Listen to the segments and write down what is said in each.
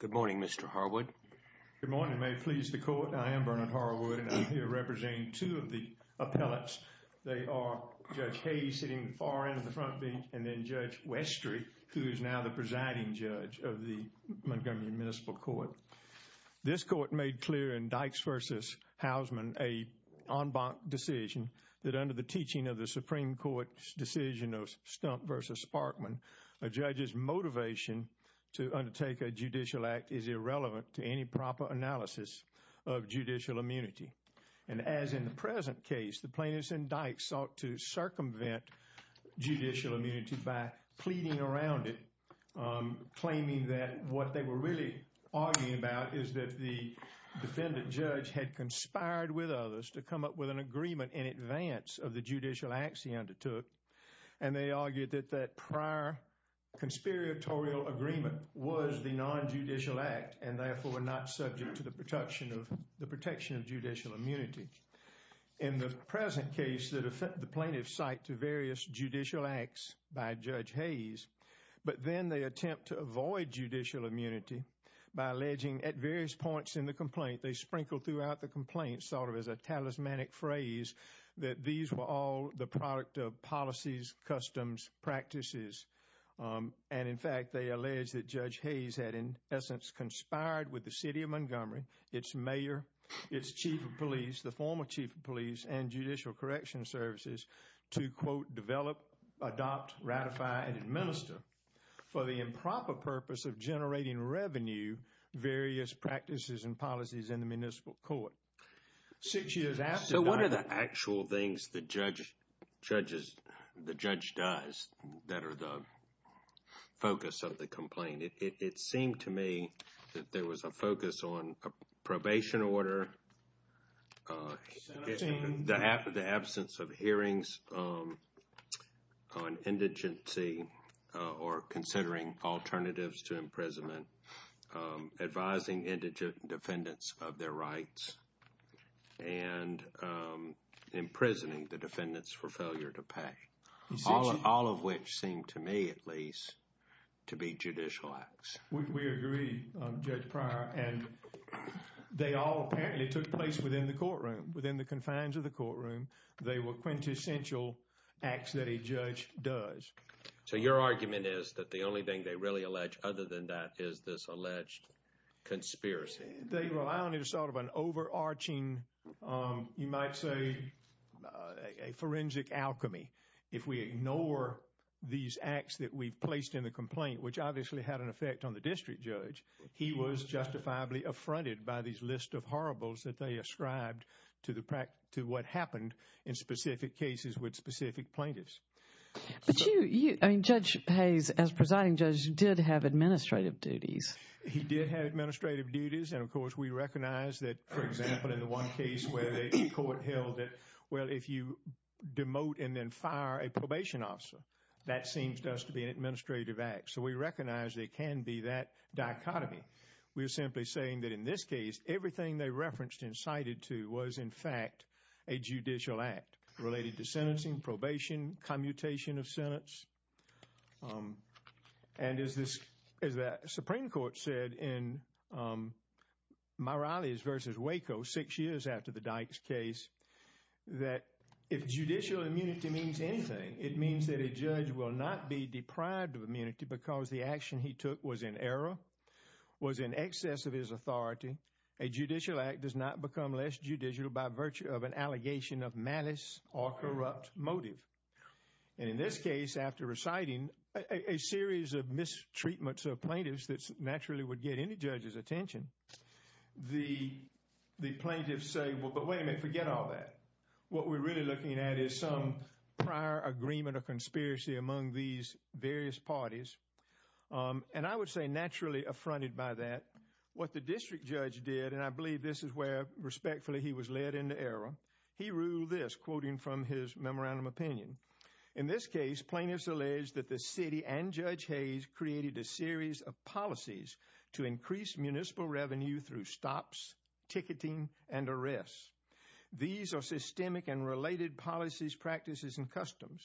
Good morning, Mr. Harwood. Good morning. May it please the Court, I am Bernard Harwood, and I'm here representing two of the appellates. They are Judge Hage, sitting far into the front bench, and then Judge Westry, who is now the presiding judge of the Montgomery Municipal Court. This Court made clear in Dykes v. Hausman a en banc decision that under the teaching of the Supreme Court's decision of Stump v. Sparkman, a judge's motivation to undertake a judicial act is irrelevant to any proper analysis of judicial immunity. And as in the present case, the plaintiffs in Dykes sought to circumvent judicial immunity by pleading around it, claiming that what they were really arguing about is that the defendant judge had conspired with others to come up with an agreement in advance of the judicial acts he undertook, and they argued that that prior conspiratorial agreement was the non-judicial act, and therefore were not subject to the protection of judicial immunity. In the present case, the plaintiffs cite to various judicial acts by Judge Hage, but then they attempt to avoid judicial immunity by alleging at various points in the complaint, they sprinkle throughout the complaint, sort of as a talismanic phrase, that these were all the product of policies, customs, practices. And in fact, they allege that Judge Hage had in essence conspired with the city of Montgomery, its mayor, its chief of police, the former chief of police, and judicial correction services to, quote, develop, adopt, ratify, and administer for the improper purpose of generating revenue various practices and policies in the municipal court. Six years after that... So what are the actual things the judge does that are the focus of the complaint? It seemed to me that there was a focus on probation order, the absence of hearings on indigency or considering alternatives to imprisonment, advising indigent defendants of their rights, and imprisoning the defendants for failure to pay. All of which seemed to me, at least, to be judicial acts. We agree, Judge Pryor, and they all apparently took place within the courtroom, within the confines of the courtroom. They were quintessential acts that a judge does. So your argument is that the only thing they really allege other than that is this alleged conspiracy? They rely on it as sort of an overarching, you might say, a forensic alchemy. If we ignore these acts that we've placed in the complaint, which obviously had an effect on the district judge, he was justifiably affronted by these list of horribles that they ascribed to what happened in specific cases with specific plaintiffs. But you, I mean, Judge Hayes, as presiding judge, did have administrative duties. He did have administrative duties, and of course, we recognize that, for example, in the one case where the court held that, well, if you demote and then fire a probation officer, that seems to us to be an administrative act. So we recognize there can be that dichotomy. We are simply saying that in this case, everything they referenced and cited to was, in fact, a judicial act related to sentencing, probation, commutation of sentence. And as the Supreme Court said in Morales v. Waco six years after the Dykes case, that if judicial immunity means anything, it means that a judge will not be deprived of immunity because the action he took was in error, was in excess of his authority. A judicial act does not become less judicial by virtue of an allegation of malice or corrupt motive. And in this case, after reciting a series of mistreatments of plaintiffs that naturally would get any judge's attention, the plaintiffs say, well, but wait a minute, forget all that. What we're really looking at is some prior agreement or conspiracy among these various parties. And I would say naturally affronted by that, what the district judge did, and I believe this is where respectfully he was led into error. He ruled this, quoting from his memorandum opinion. In this case, plaintiffs alleged that the city and Judge Hayes created a series of policies to increase municipal revenue through stops, ticketing and arrests. These are systemic and related policies, practices and customs.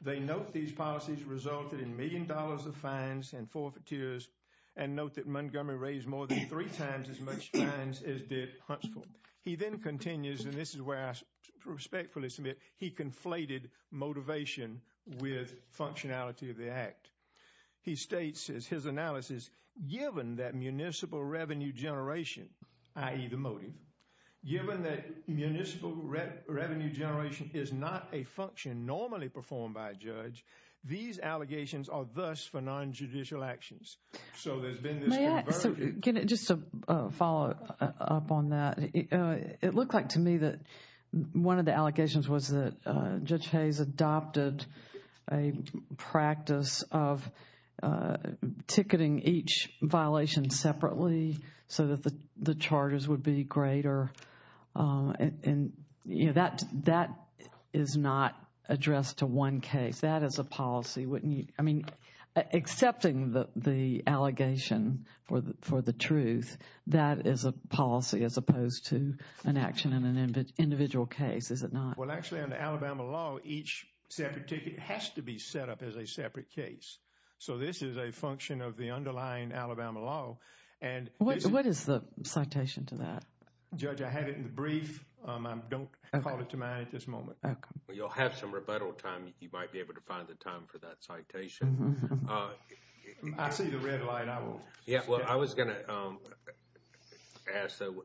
They note these policies resulted in million dollars of fines and forfeitures and note that Montgomery raised more than three times as much fines as did Huntsville. He then continues, and this is where I respectfully submit, he conflated motivation with functionality of the act. He states, as his analysis, given that municipal revenue generation, i.e. the motive, given that municipal revenue generation is not a function normally performed by a judge, these allegations are thus for nonjudicial actions. So there's been this conversation. May I, so just to follow up on that, it looked like to me that one of the allegations was that Judge Hayes adopted a practice of ticketing each violation separately so that the charges would be greater. And, you know, that that is not addressed to one case. That is a policy. I mean, accepting that the allegation for the truth, that is a policy as opposed to an action in an individual case, is it not? Well, actually, under Alabama law, each separate ticket has to be set up as a separate case. So this is a function of the underlying Alabama law. And what is the citation to that? Judge, I had it in the brief. I don't call it to mind at this moment. You'll have some rebuttal time. You might be able to find the time for that citation. I see the red light. I won't. Yeah, well, I was going to ask, though,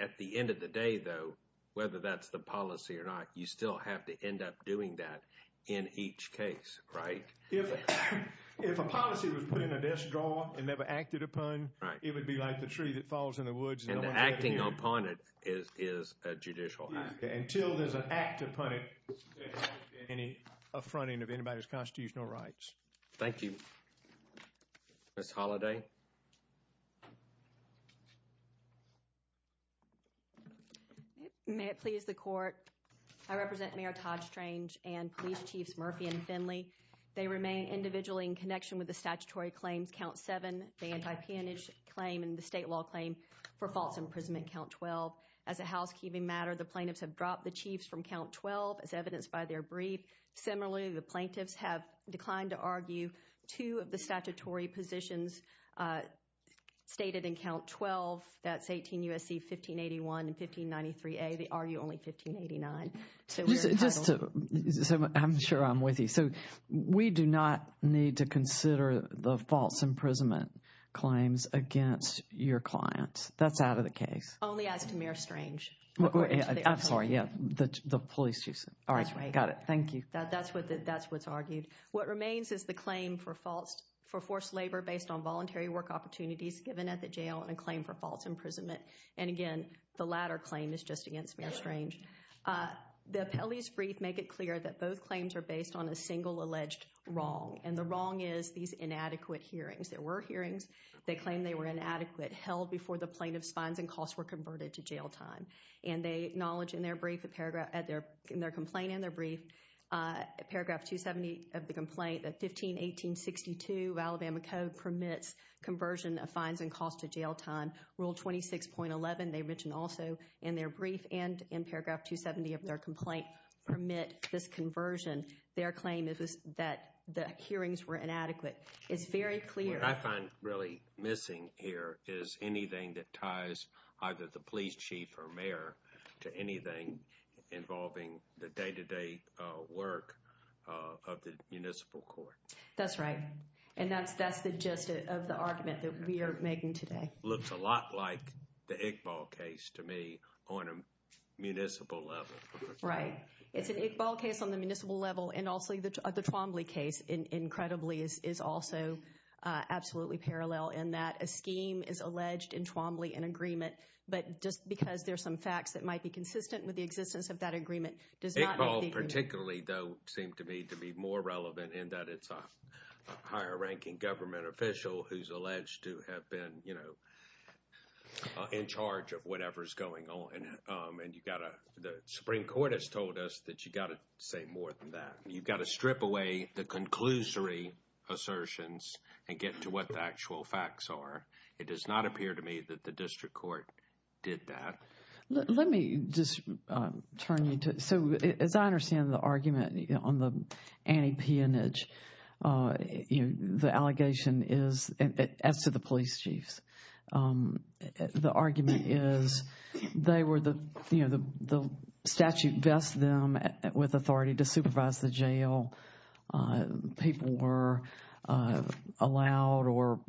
at the end of the day, though, whether that's the policy or not, you still have to end up doing that in each case, right? If a policy was put in a desk drawer and never acted upon, it would be like the tree that falls in the woods. And the acting upon it is a judicial act. Until there's an act upon it, there hasn't been any affronting of anybody's constitutional rights. Thank you. Ms. Holliday. May it please the court, I represent Mayor Todd Strange and police chiefs Murphy and Finley. They remain individually in connection with the statutory claims. Count seven, the anti-peonage claim and the state law claim for false imprisonment. Count twelve, as a housekeeping matter, the plaintiffs have dropped the chiefs from count twelve as evidenced by their brief. Similarly, the plaintiffs have declined to argue two of the statutory positions stated in count twelve. That's 18 U.S.C. 1581 and 1593A. They argue only 1589. So just so I'm sure I'm with you. So we do not need to consider the false imprisonment claims against your clients. That's out of the case. Only as to Mayor Strange. I'm sorry. Yeah, the police chiefs. All right. Got it. Thank you. That's what that's what's argued. What remains is the claim for false for forced labor based on voluntary work opportunities given at the jail and a claim for false imprisonment. And again, the latter claim is just against Mayor Strange. The appellee's brief make it clear that both claims are based on a single alleged wrong. And the wrong is these inadequate hearings. There were hearings. They claim they were inadequate, held before the plaintiff's fines and costs were converted to jail time. And they acknowledge in their brief, in their complaint and their brief, paragraph 270 of the complaint that 151862 of Alabama Code permits conversion of fines and costs to jail time. Rule 26.11, they mentioned also in their brief and in paragraph 270 of their complaint, permit this conversion. Their claim is that the hearings were inadequate. It's very clear. What I find really missing here is anything that ties either the police chief or mayor to anything involving the day to day work of the municipal court. That's right. And that's that's the gist of the argument that we are making today. Looks a lot like the Iqbal case to me on a municipal level. Right. It's an Iqbal case on the municipal level. And also the Twombly case incredibly is also absolutely parallel in that a scheme is alleged in Twombly, an agreement. But just because there's some facts that might be consistent with the existence of that agreement does not make the agreement. Iqbal particularly, though, seemed to me to be more relevant in that it's a higher ranking government official who's alleged to have been, you know, in charge of whatever is going on. And you've got to the Supreme Court has told us that you've got to say more than that. You've got to strip away the conclusory assertions and get to what the actual facts are. It does not appear to me that the district court did that. Let me just turn you to. So as I understand the argument on the anti-peonage, you know, the allegation is as to the police chiefs. The argument is they were the, you know, the statute vests them with authority to supervise the jail. People were allowed or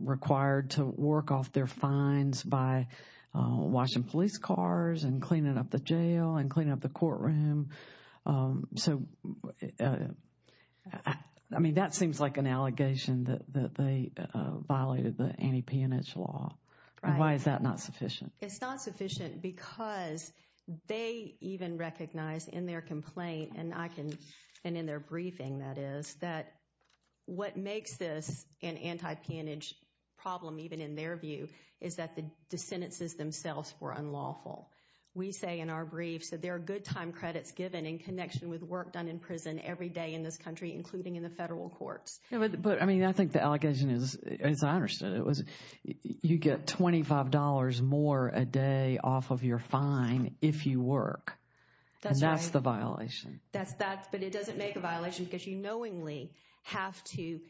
required to work off their fines by washing police cars and cleaning up the jail and cleaning up the courtroom. So, I mean, that seems like an allegation that they violated the anti-peonage law. Why is that not sufficient? It's not sufficient because they even recognize in their complaint and I can and in their briefing, that is, that what makes this an anti-peonage problem, even in their view, is that the sentences themselves were unlawful. We say in our briefs that there are good time credits given in connection with work done in prison every day in this country, including in the federal courts. But, I mean, I think the allegation is, as I understood it, was you get twenty five dollars more a day off of your fine if you work. That's the violation. That's that. But it doesn't make a violation because you knowingly have to,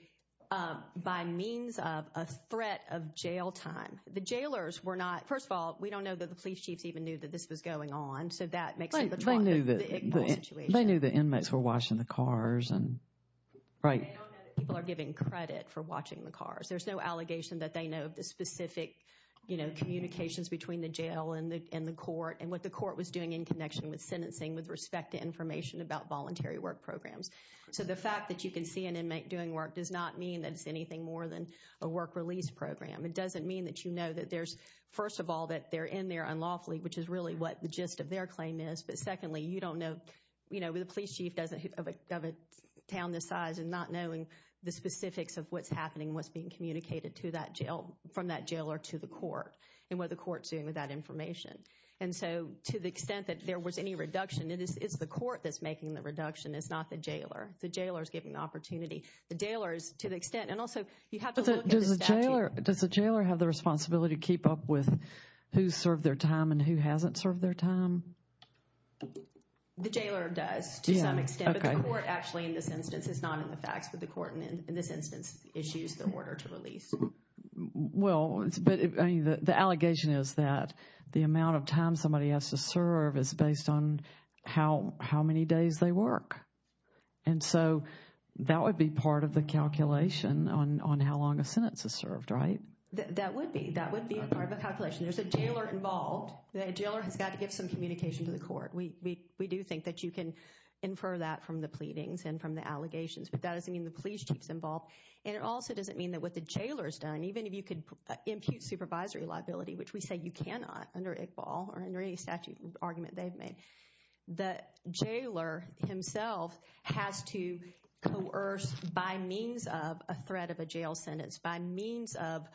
by means of a threat of jail time. The jailers were not, first of all, we don't know that the police chiefs even knew that this was going on. So that makes it, they knew that they knew the inmates were washing the cars. They don't know that people are given credit for watching the cars. There's no allegation that they know of the specific, you know, communications between the jail and the court and what the court was doing in connection with sentencing with respect to information about voluntary work programs. So the fact that you can see an inmate doing work does not mean that it's anything more than a work release program. It doesn't mean that you know that there's, first of all, that they're in there unlawfully, which is really what the gist of their claim is. But secondly, you don't know, you know, the police chief doesn't have a town this size and not knowing the specifics of what's happening, what's being communicated to that jail, from that jail or to the court and what the court's doing with that information. And so to the extent that there was any reduction, it is the court that's making the reduction, it's not the jailer. The jailer is given the opportunity. The jailers, to the extent, and also you have to look at the statute. Does the jailer have the responsibility to keep up with who served their time and who hasn't served their time? The jailer does to some extent, but the court actually, in this instance, is not in the facts, but the court in this instance issues the order to release. Well, but the allegation is that the amount of time somebody has to serve is based on how many days they work. And so that would be part of the calculation on how long a sentence is served, right? That would be. That would be a part of the calculation. There's a jailer involved. The jailer has got to give some communication to the court. We, we, we do think that you can infer that from the pleadings and from the allegations, but that doesn't mean the police chief's involved. And it also doesn't mean that what the jailer's done, even if you could impute supervisory liability, which we say you cannot under Iqbal or under any statute argument they've made, the jailer himself has to coerce by means of a threat of a jail sentence, by means of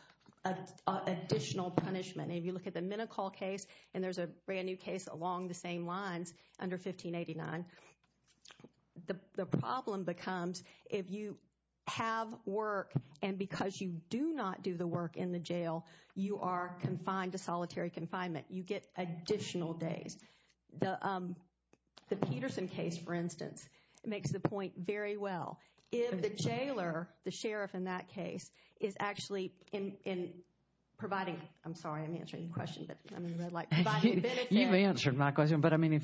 additional punishment. And if you look at the Minicol case and there's a brand new case along the same lines under 1589, the problem becomes if you have work and because you do not do the work in the jail, you are confined to solitary confinement, you get additional days. The Peterson case, for instance, makes the point very well. If the jailer, the sheriff in that case, is actually in providing, I'm sorry, I didn't answer your question, but I mean,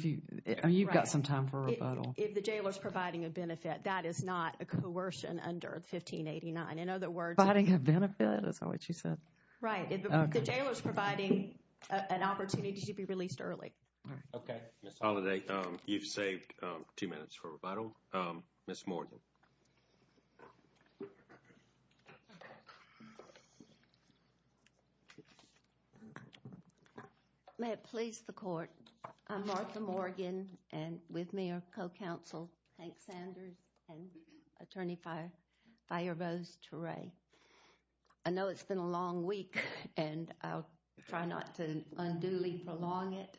you've got some time for a rebuttal. If the jailer's providing a benefit, that is not a coercion under 1589. In other words, providing a benefit, is that what you said? Right. If the jailer's providing an opportunity to be released early. OK, Ms. Holliday, you've saved two minutes for a rebuttal. Ms. Morgan. May it please the court, I'm Martha Morgan and with me are co-counsel Hank Sanders and Attorney Fire, Fire Rose Turay. I know it's been a long week and I'll try not to unduly prolong it.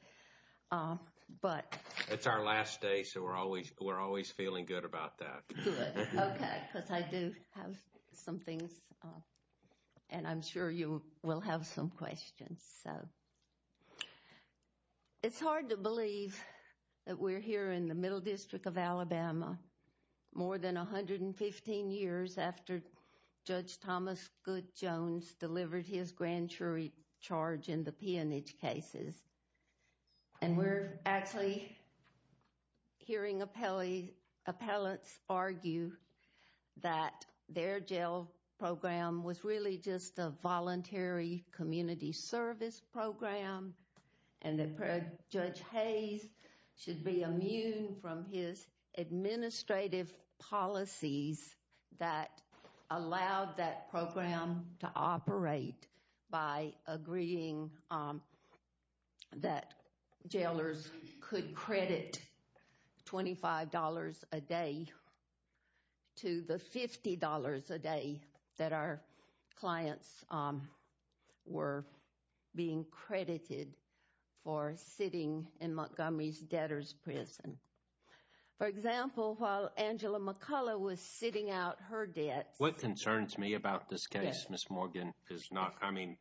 But it's our last day. So we're always we're always feeling good about that. OK, because I do have some things and I'm sure you will have some questions, so. It's hard to believe that we're here in the Middle District of Alabama, more than 115 years after Judge Thomas Goode Jones delivered his grand jury charge in the that their jail program was really just a voluntary community service program and that Judge Hayes should be immune from his administrative policies that allowed that program to operate by agreeing that jailers could credit $25 a day. To the $50 a day that our clients were being credited for sitting in Montgomery's debtors prison, for example, while Angela McCullough was sitting out her debt. What concerns me about this case, Ms. Morgan, is not I mean,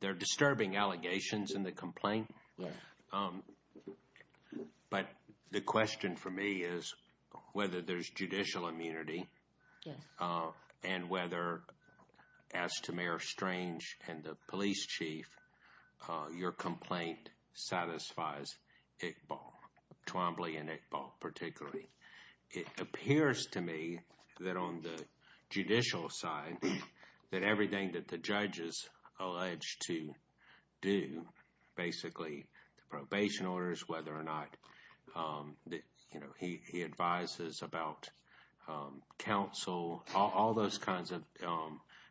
they're disturbing allegations in the complaint. But the question for me is whether there's judicial immunity and whether, as to Mayor Strange and the police chief, your complaint satisfies Iqbal, Twombly and Iqbal particularly. It appears to me that on the judicial side, that everything that the probation orders, whether or not, you know, he advises about counsel, all those kinds of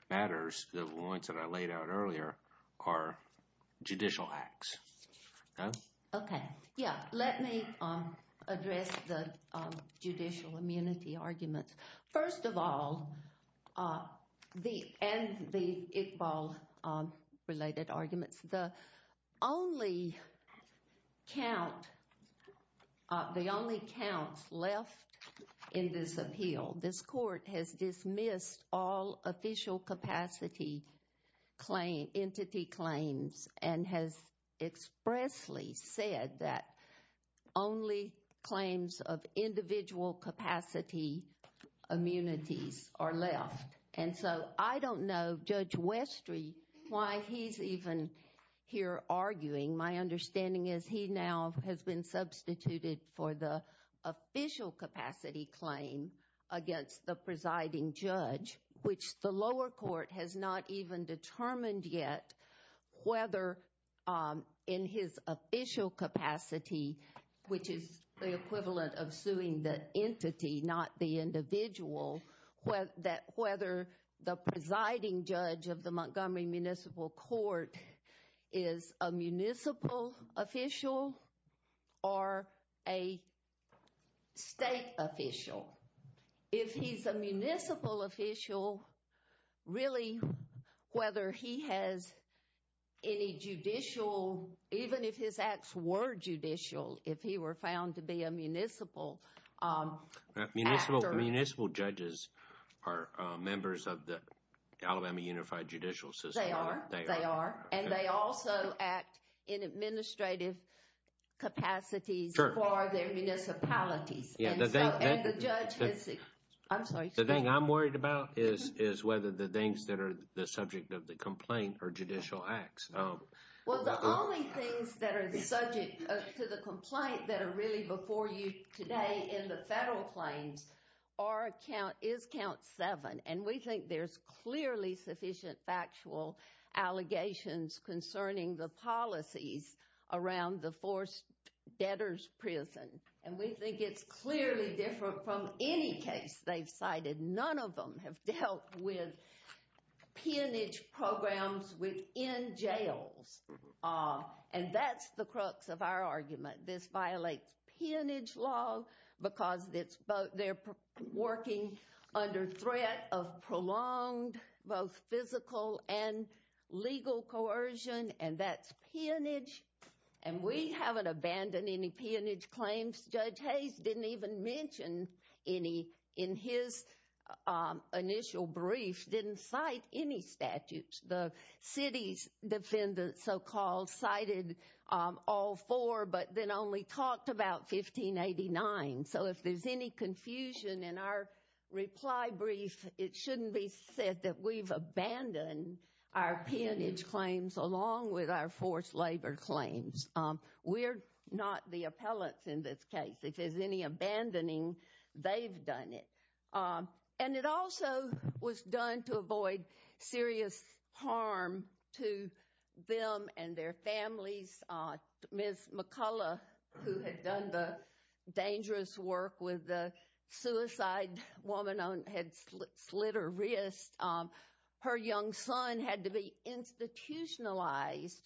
matters, the ones that I laid out earlier, are judicial acts. OK, yeah. Let me address the judicial immunity arguments. First of all, the and the Iqbal related arguments, the only count, the only counts left in this appeal, this court has dismissed all official capacity claim, entity immunities are left. And so I don't know, Judge Westry, why he's even here arguing. My understanding is he now has been substituted for the official capacity claim against the presiding judge, which the lower court has not even determined yet whether in his official capacity, which is the equivalent of suing the entity, not the individual, whether the presiding judge of the Montgomery Municipal Court is a municipal official or a state official. If he's a municipal official, really, whether he has any judicial, even if his found to be a municipal. Municipal, municipal judges are members of the Alabama Unified Judicial System. They are. They are. And they also act in administrative capacities for their municipalities. Yeah, the thing I'm worried about is, is whether the things that are the subject of the complaint are judicial acts. Well, the only things that are the subject to the complaint that are really before you today in the federal claims are count, is count seven. And we think there's clearly sufficient factual allegations concerning the policies around the forced debtors prison. And we think it's clearly different from any case they've cited. None of them have dealt with peonage programs within jails. And that's the crux of our argument. This violates peonage law because they're working under threat of prolonged both physical and legal coercion. And that's peonage. And we haven't abandoned any peonage claims. Judge Hayes didn't even mention any in his initial brief, didn't cite any statutes. The city's defendant so-called cited all four, but then only talked about 1589. So if there's any confusion in our reply brief, it shouldn't be said that we've abandoned our peonage claims along with our forced labor claims. We're not the appellants in this case. If there's any abandoning, they've done it. And it also was done to avoid serious harm to them and their families. Ms. McCullough, who had done the dangerous work with the suicide woman, had slit her wrist. Her young son had to be institutionalized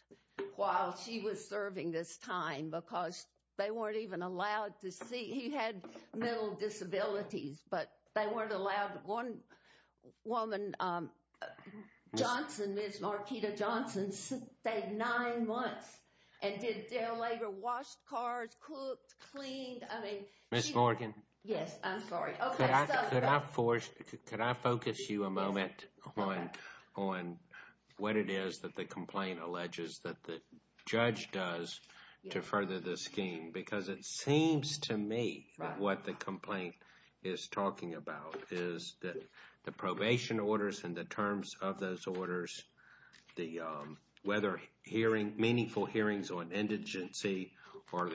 while she was serving this time because they weren't even allowed to see. He had mental disabilities, but they weren't allowed. One woman, Johnson, Ms. Markita Johnson, stayed nine months and did their labor, washed cars, cooked, cleaned. I mean, Ms. Morgan. Yes, I'm sorry. Could I force, could I focus you a moment on what it is that the complaint alleges that the judge does to further the scheme? Because it seems to me what the complaint is talking about is that the probation orders and the terms of those orders, the whether hearing meaningful hearings on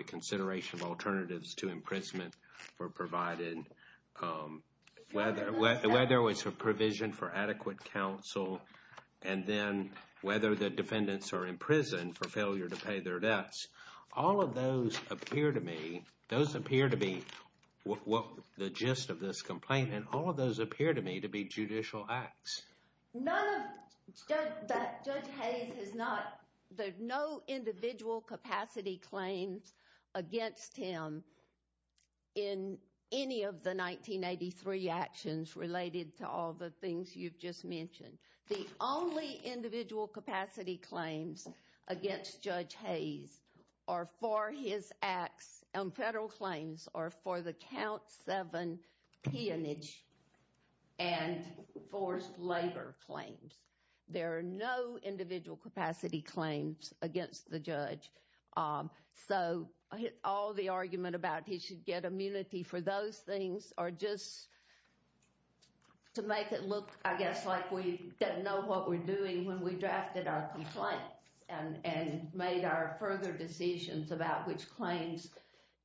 consideration of alternatives to imprisonment were provided, whether it was a provision for adequate counsel, and then whether the defendants are in prison for failure to pay their debts. All of those appear to me, those appear to be what the gist of this complaint and all of those appear to me to be judicial acts. None of, Judge Hayes has not, there's no individual capacity claims against him in any of the 1983 actions related to all the things you've just mentioned. The only individual capacity claims against Judge Hayes are for his acts and labor claims. There are no individual capacity claims against the judge. So all the argument about he should get immunity for those things are just to make it look, I guess, like we didn't know what we're doing when we drafted our complaints and made our further decisions about which claims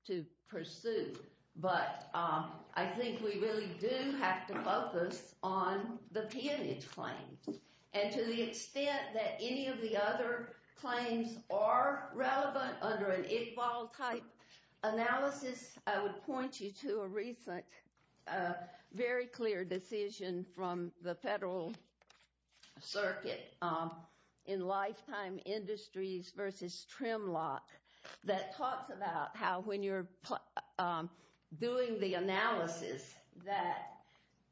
to pursue. But I think we really do have to focus on the peonage claims and to the extent that any of the other claims are relevant under an Iqbal type analysis, I would point you to a recent, very clear decision from the federal circuit in Lifetime Industries versus Trimlock that talks about how when you're doing the analysis that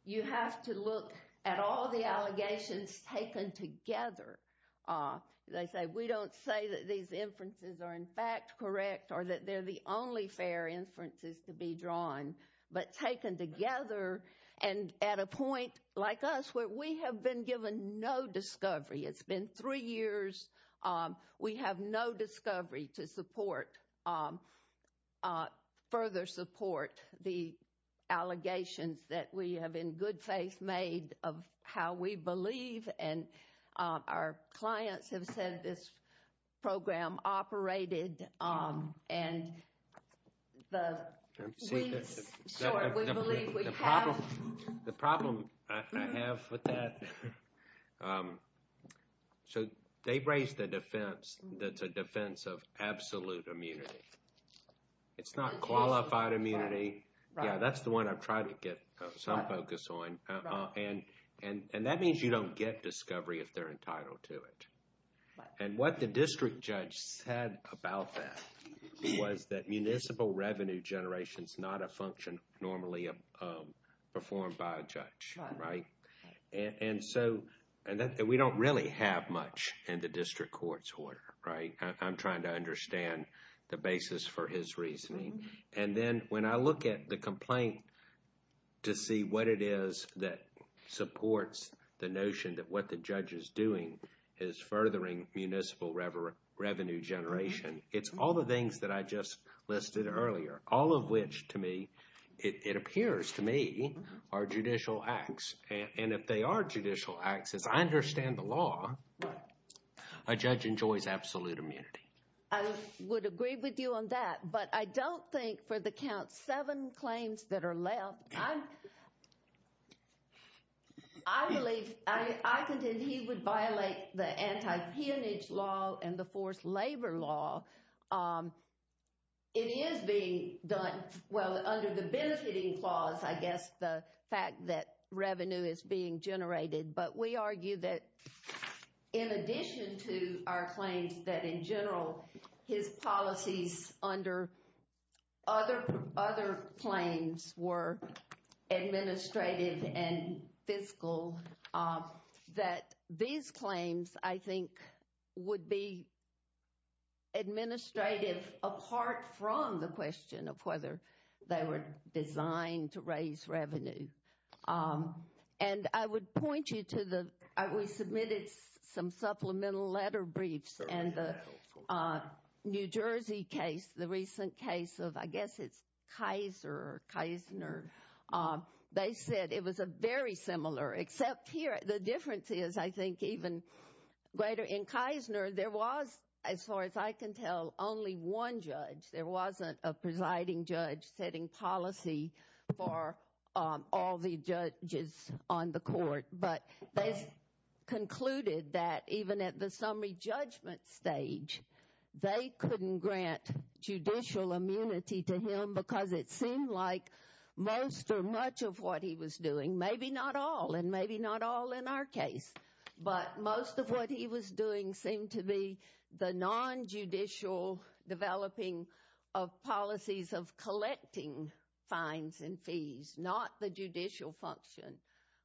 you have to look at all the allegations taken together. They say we don't say that these inferences are in fact correct or that they're the only fair inferences to be drawn, but taken together and at a point like us where we have been given no discovery. It's been three years. We have no discovery to support, further support the allegations that we have in good faith made of how we believe. And our clients have said this program operated and the weeks short we believe we have. The problem I have with that, so they've raised the defense that's a defense of absolute immunity. It's not qualified immunity. Yeah, that's the one I've tried to get some focus on. And that means you don't get discovery if they're entitled to it. And what the district judge said about that was that municipal revenue generation is not a function normally performed by a judge, right? And so we don't really have much in the district court's order, right? I'm trying to understand the basis for his reasoning. And then when I look at the complaint to see what it is that supports the notion that what the judge is doing is furthering municipal revenue generation. It's all the things that I just listed earlier, all of which to me, it appears to me are judicial acts. And if they are judicial acts, as I understand the law, a judge enjoys absolute immunity. I would agree with you on that. But I don't think for the count seven claims that are left, I believe, I contend he would It is being done, well, under the benefiting clause, I guess, the fact that revenue is being generated. But we argue that in addition to our claims that in general, his policies under other claims were administrative and fiscal, that these claims, I think, would be administrative apart from the question of whether they were designed to raise revenue. And I would point you to the, we submitted some supplemental letter briefs and the New York Times, Kaiser, Kisner, they said it was a very similar, except here, the difference is, I think, even greater in Kisner, there was, as far as I can tell, only one judge. There wasn't a presiding judge setting policy for all the judges on the court. But they concluded that even at the summary judgment stage, they couldn't grant judicial immunity to him because it seemed like most or much of what he was doing, maybe not all, and maybe not all in our case, but most of what he was doing seemed to be the nonjudicial developing of policies of collecting fines and fees, not the judicial function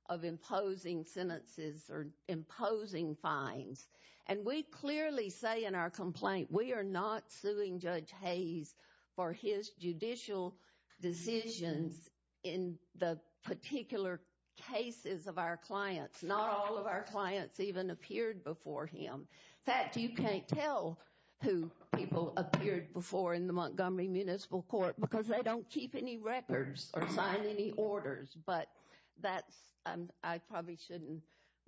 of imposing sentences or imposing fines. And we clearly say in our complaint, we are not suing Judge Hayes for his judicial decisions in the particular cases of our clients. Not all of our clients even appeared before him. In fact, you can't tell who people appeared before in the Montgomery Municipal Court because they don't keep any records or sign any orders, but that's, I probably shouldn't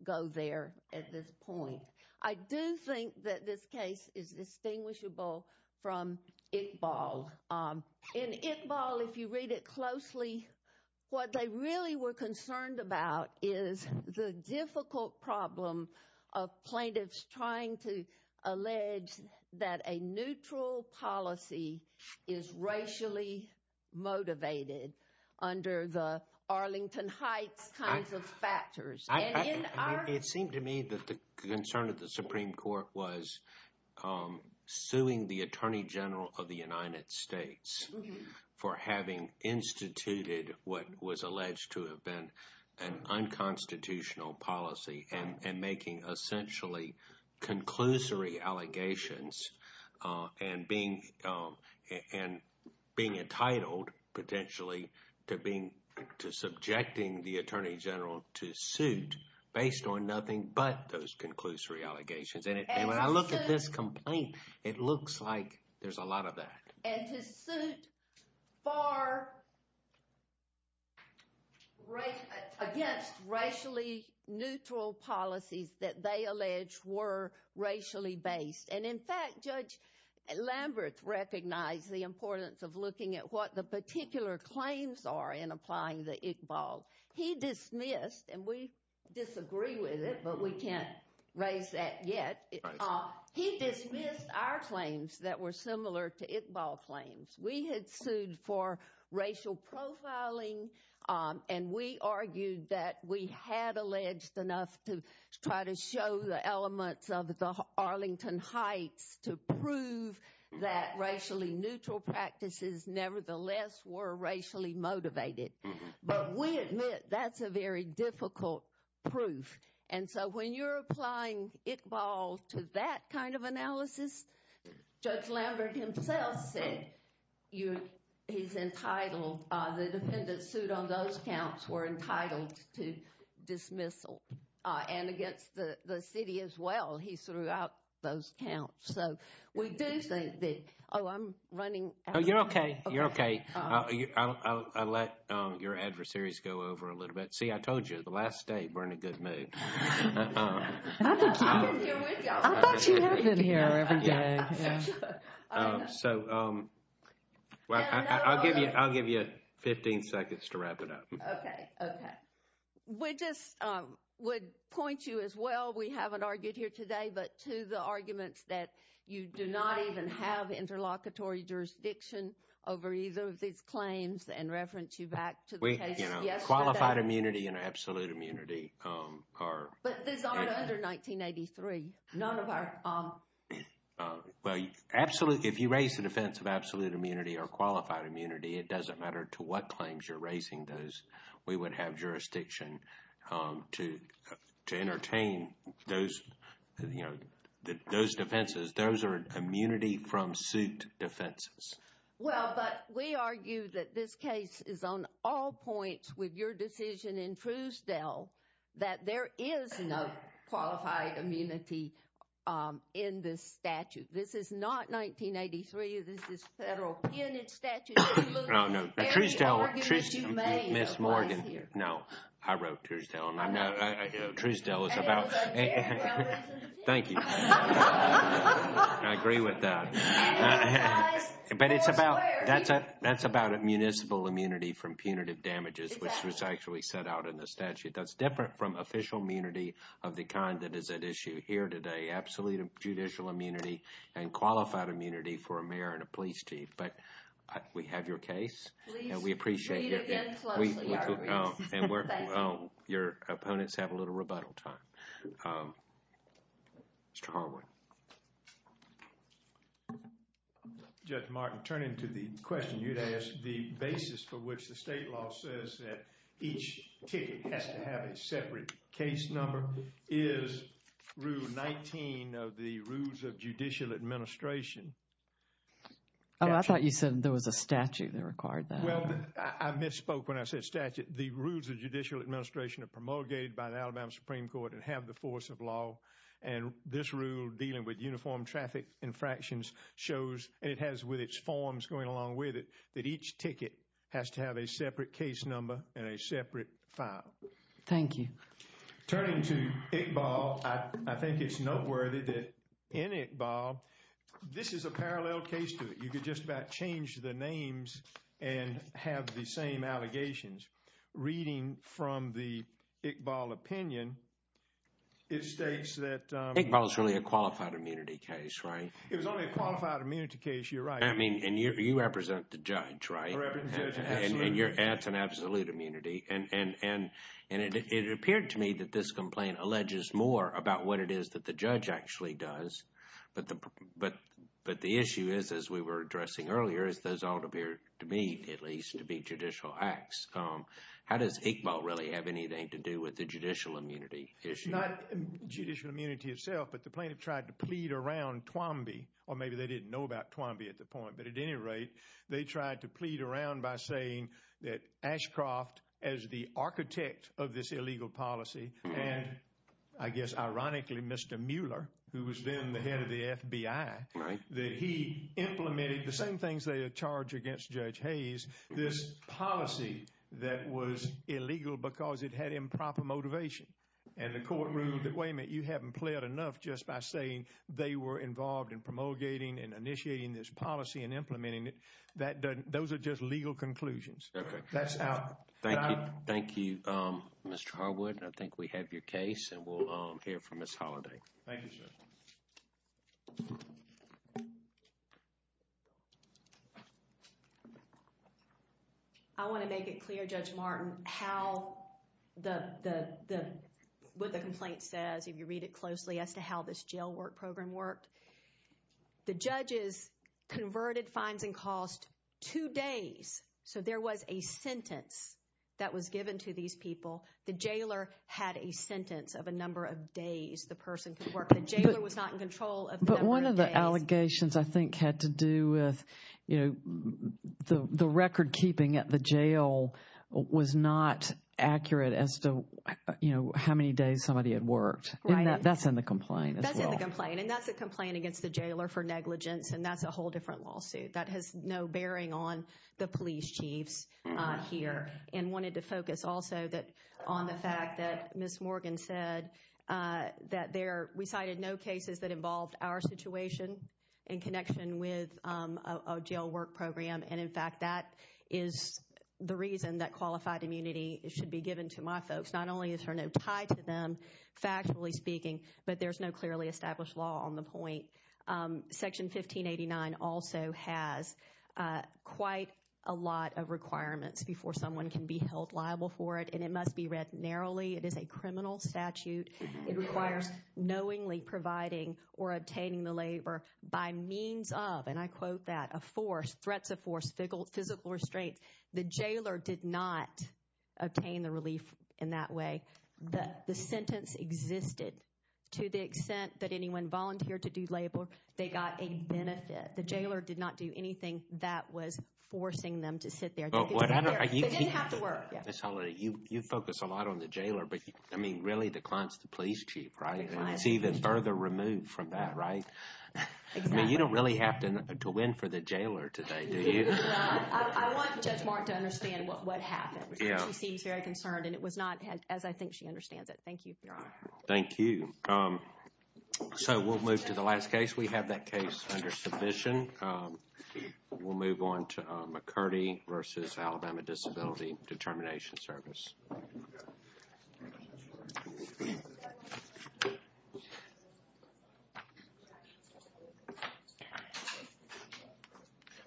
go there at this point. I do think that this case is distinguishable from Iqbal. In Iqbal, if you read it closely, what they really were concerned about is the difficult problem of plaintiffs trying to allege that a neutral policy is racially motivated under the Arlington Heights kinds of factors. It seemed to me that the concern of the Supreme Court was suing the Attorney General of the United States for having instituted what was alleged to have been an unconstitutional policy and making essentially conclusory allegations and being entitled, potentially, to subjecting the Attorney General to suit based on nothing but those conclusory allegations. And when I look at this complaint, it looks like there's a lot of that. And to suit against racially neutral policies that they allege were racially based. And in fact, Judge Lambert recognized the importance of looking at what the particular claims are in applying the Iqbal. He dismissed, and we disagree with it, but we can't raise that yet. He dismissed our claims that were similar to Iqbal claims. We had sued for racial profiling, and we argued that we had alleged enough to try to show the elements of the Arlington Heights to prove that racially neutral practices nevertheless were racially motivated. But we admit that's a very difficult proof. And so when you're applying Iqbal to that kind of analysis, Judge Lambert himself said he's entitled, the defendants sued on those counts were entitled to dismissal. And against the city as well, he threw out those counts. So we do think that, oh, I'm running out of time. Oh, you're okay. You're okay. I'll let your adversaries go over a little bit. See, I told you, the last day we're in a good mood. I thought you had been here every day. So, well, I'll give you 15 seconds to wrap it up. Okay. Okay. We just would point you as well, we haven't argued here today, but to the arguments that you do not even have interlocutory jurisdiction over either of these claims and reference you back to the case yesterday. We, you know, qualified immunity and absolute immunity are... But these aren't under 1983. None of our... Well, if you raise the defense of absolute immunity or qualified immunity, it doesn't matter to what claims you're raising those, we would have jurisdiction to entertain those, you know, those defenses. Those are immunity from suit defenses. Well, but we argue that this case is on all points with your decision in Truesdell that there is no qualified immunity in this statute. This is not 1983. This is Federal Penitent Statute. Oh, no. Truesdell... Ms. Morgan. No. I wrote Truesdell. Truesdell is about... Thank you. I agree with that. But it's about... That's about a municipal immunity from punitive damages, which was actually set out in the statute. That's different from official immunity of the kind that is at issue here today. Absolute judicial immunity and qualified immunity for a mayor and a police chief. But we have your case and we appreciate your... Please read again closely. Your opponents have a little rebuttal time. Mr. Harwood. Judge Martin, turning to the question you'd asked, the basis for which the state law says that each ticket has to have a separate case number is Rule 19 of the Rules of Judicial Administration. Oh, I thought you said there was a statute that required that. Well, I misspoke when I said statute. The Rules of Judicial Administration are promulgated by the Alabama Supreme Court and have the force of law. And this rule dealing with uniform traffic infractions shows, and it has with its forms going along with it, that each ticket has to have a separate case number and a separate file. Thank you. Turning to Iqbal, I think it's noteworthy that in Iqbal, this is a parallel case to it. You could just about change the names and have the same allegations. Reading from the Iqbal opinion, it states that... Iqbal is really a qualified immunity case, right? It was only a qualified immunity case, you're right. I mean, and you represent the judge, right? I represent the judge, yes. And that's an absolute immunity. And it appeared to me that this complaint alleges more about what it is that the judge actually does. But the issue is, as we were addressing earlier, is those all appear to me, at least, to be judicial acts. How does Iqbal really have anything to do with the judicial immunity issue? Not judicial immunity itself, but the plaintiff tried to plead around Twomby. Or maybe they didn't know about Twomby at the point. But at any rate, they tried to plead around by saying that Ashcroft, as the architect of this illegal policy, and I guess, ironically, Mr. Mueller, who was then the head of the FBI, that he implemented the same things they had charged against Judge Hayes, this policy that was illegal because it had improper motivation. And the court ruled that, wait a minute, you haven't pled enough just by saying they were involved in promulgating and initiating this policy and implementing it. Those are just legal conclusions. That's out. Thank you, Mr. Harwood. I think we have your case and we'll hear from Ms. Holliday. Thank you, sir. I want to make it clear, Judge Martin, how the, what the complaint says, if you read it closely, as to how this jail work program worked. The judges converted fines and costs two days. So there was a sentence that was given to these people. The jailer had a sentence of a number of days the person could work. The jailer was not in control of the number of days. But one of the allegations, I think, had to do with, you know, the record keeping at the jail was not accurate as to, you know, how many days somebody had worked. And that's in the complaint as well. That's in the complaint. And that's a complaint against the jailer for negligence. And that's a whole different lawsuit. That has no bearing on the police chiefs here. And wanted to focus also on the fact that Ms. Morgan said that there, we cited no cases that involved our situation in connection with a jail work program. And in fact, that is the reason that qualified immunity should be given to my folks. Not only is there no tie to them, factually speaking, but there's no clearly established law on the point. Section 1589 also has quite a lot of requirements before someone can be held liable for it. And it must be read narrowly. It is a criminal statute. It requires knowingly providing or obtaining the labor by means of, and I quote that, a force, threats of force, physical restraints. The jailer did not obtain the relief in that way. The sentence existed to the extent that anyone volunteered to do labor. They got a benefit. The jailer did not do anything that was forcing them to sit there. They didn't have to work. Ms. Holliday, you focus a lot on the jailer. But, I mean, really the client's the police chief, right? And it's even further removed from that, right? Exactly. I mean, you don't really have to win for the jailer today, do you? No. I want Judge Mark to understand what happened. She seems very concerned. And it was not as I think she understands it. Thank you, Your Honor. Thank you. So, we'll move to the last case. We have that case under submission. We'll move on to McCurdy v. Alabama Disability Determination Service.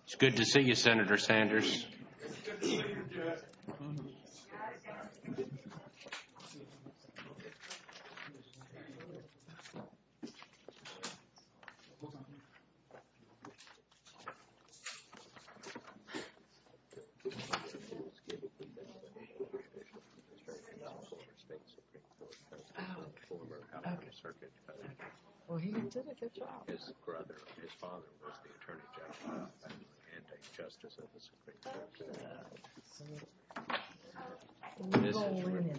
It's good to see you, Senator Sanders. It's good to see you, Judge. Well, he did a good job. His brother, his father was the Attorney General and a Justice of the Supreme Court.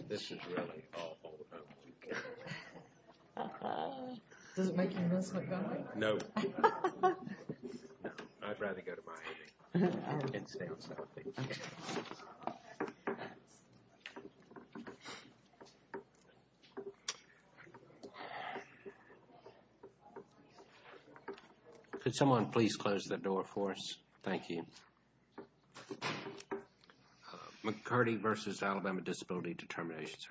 This is really awful. Does it make you miss Montgomery? No. No. I'd rather go to Miami and stay on South Beach. Thank you. Could someone please close the door for us? Thank you. McCurdy v. Alabama Disability Determination Service.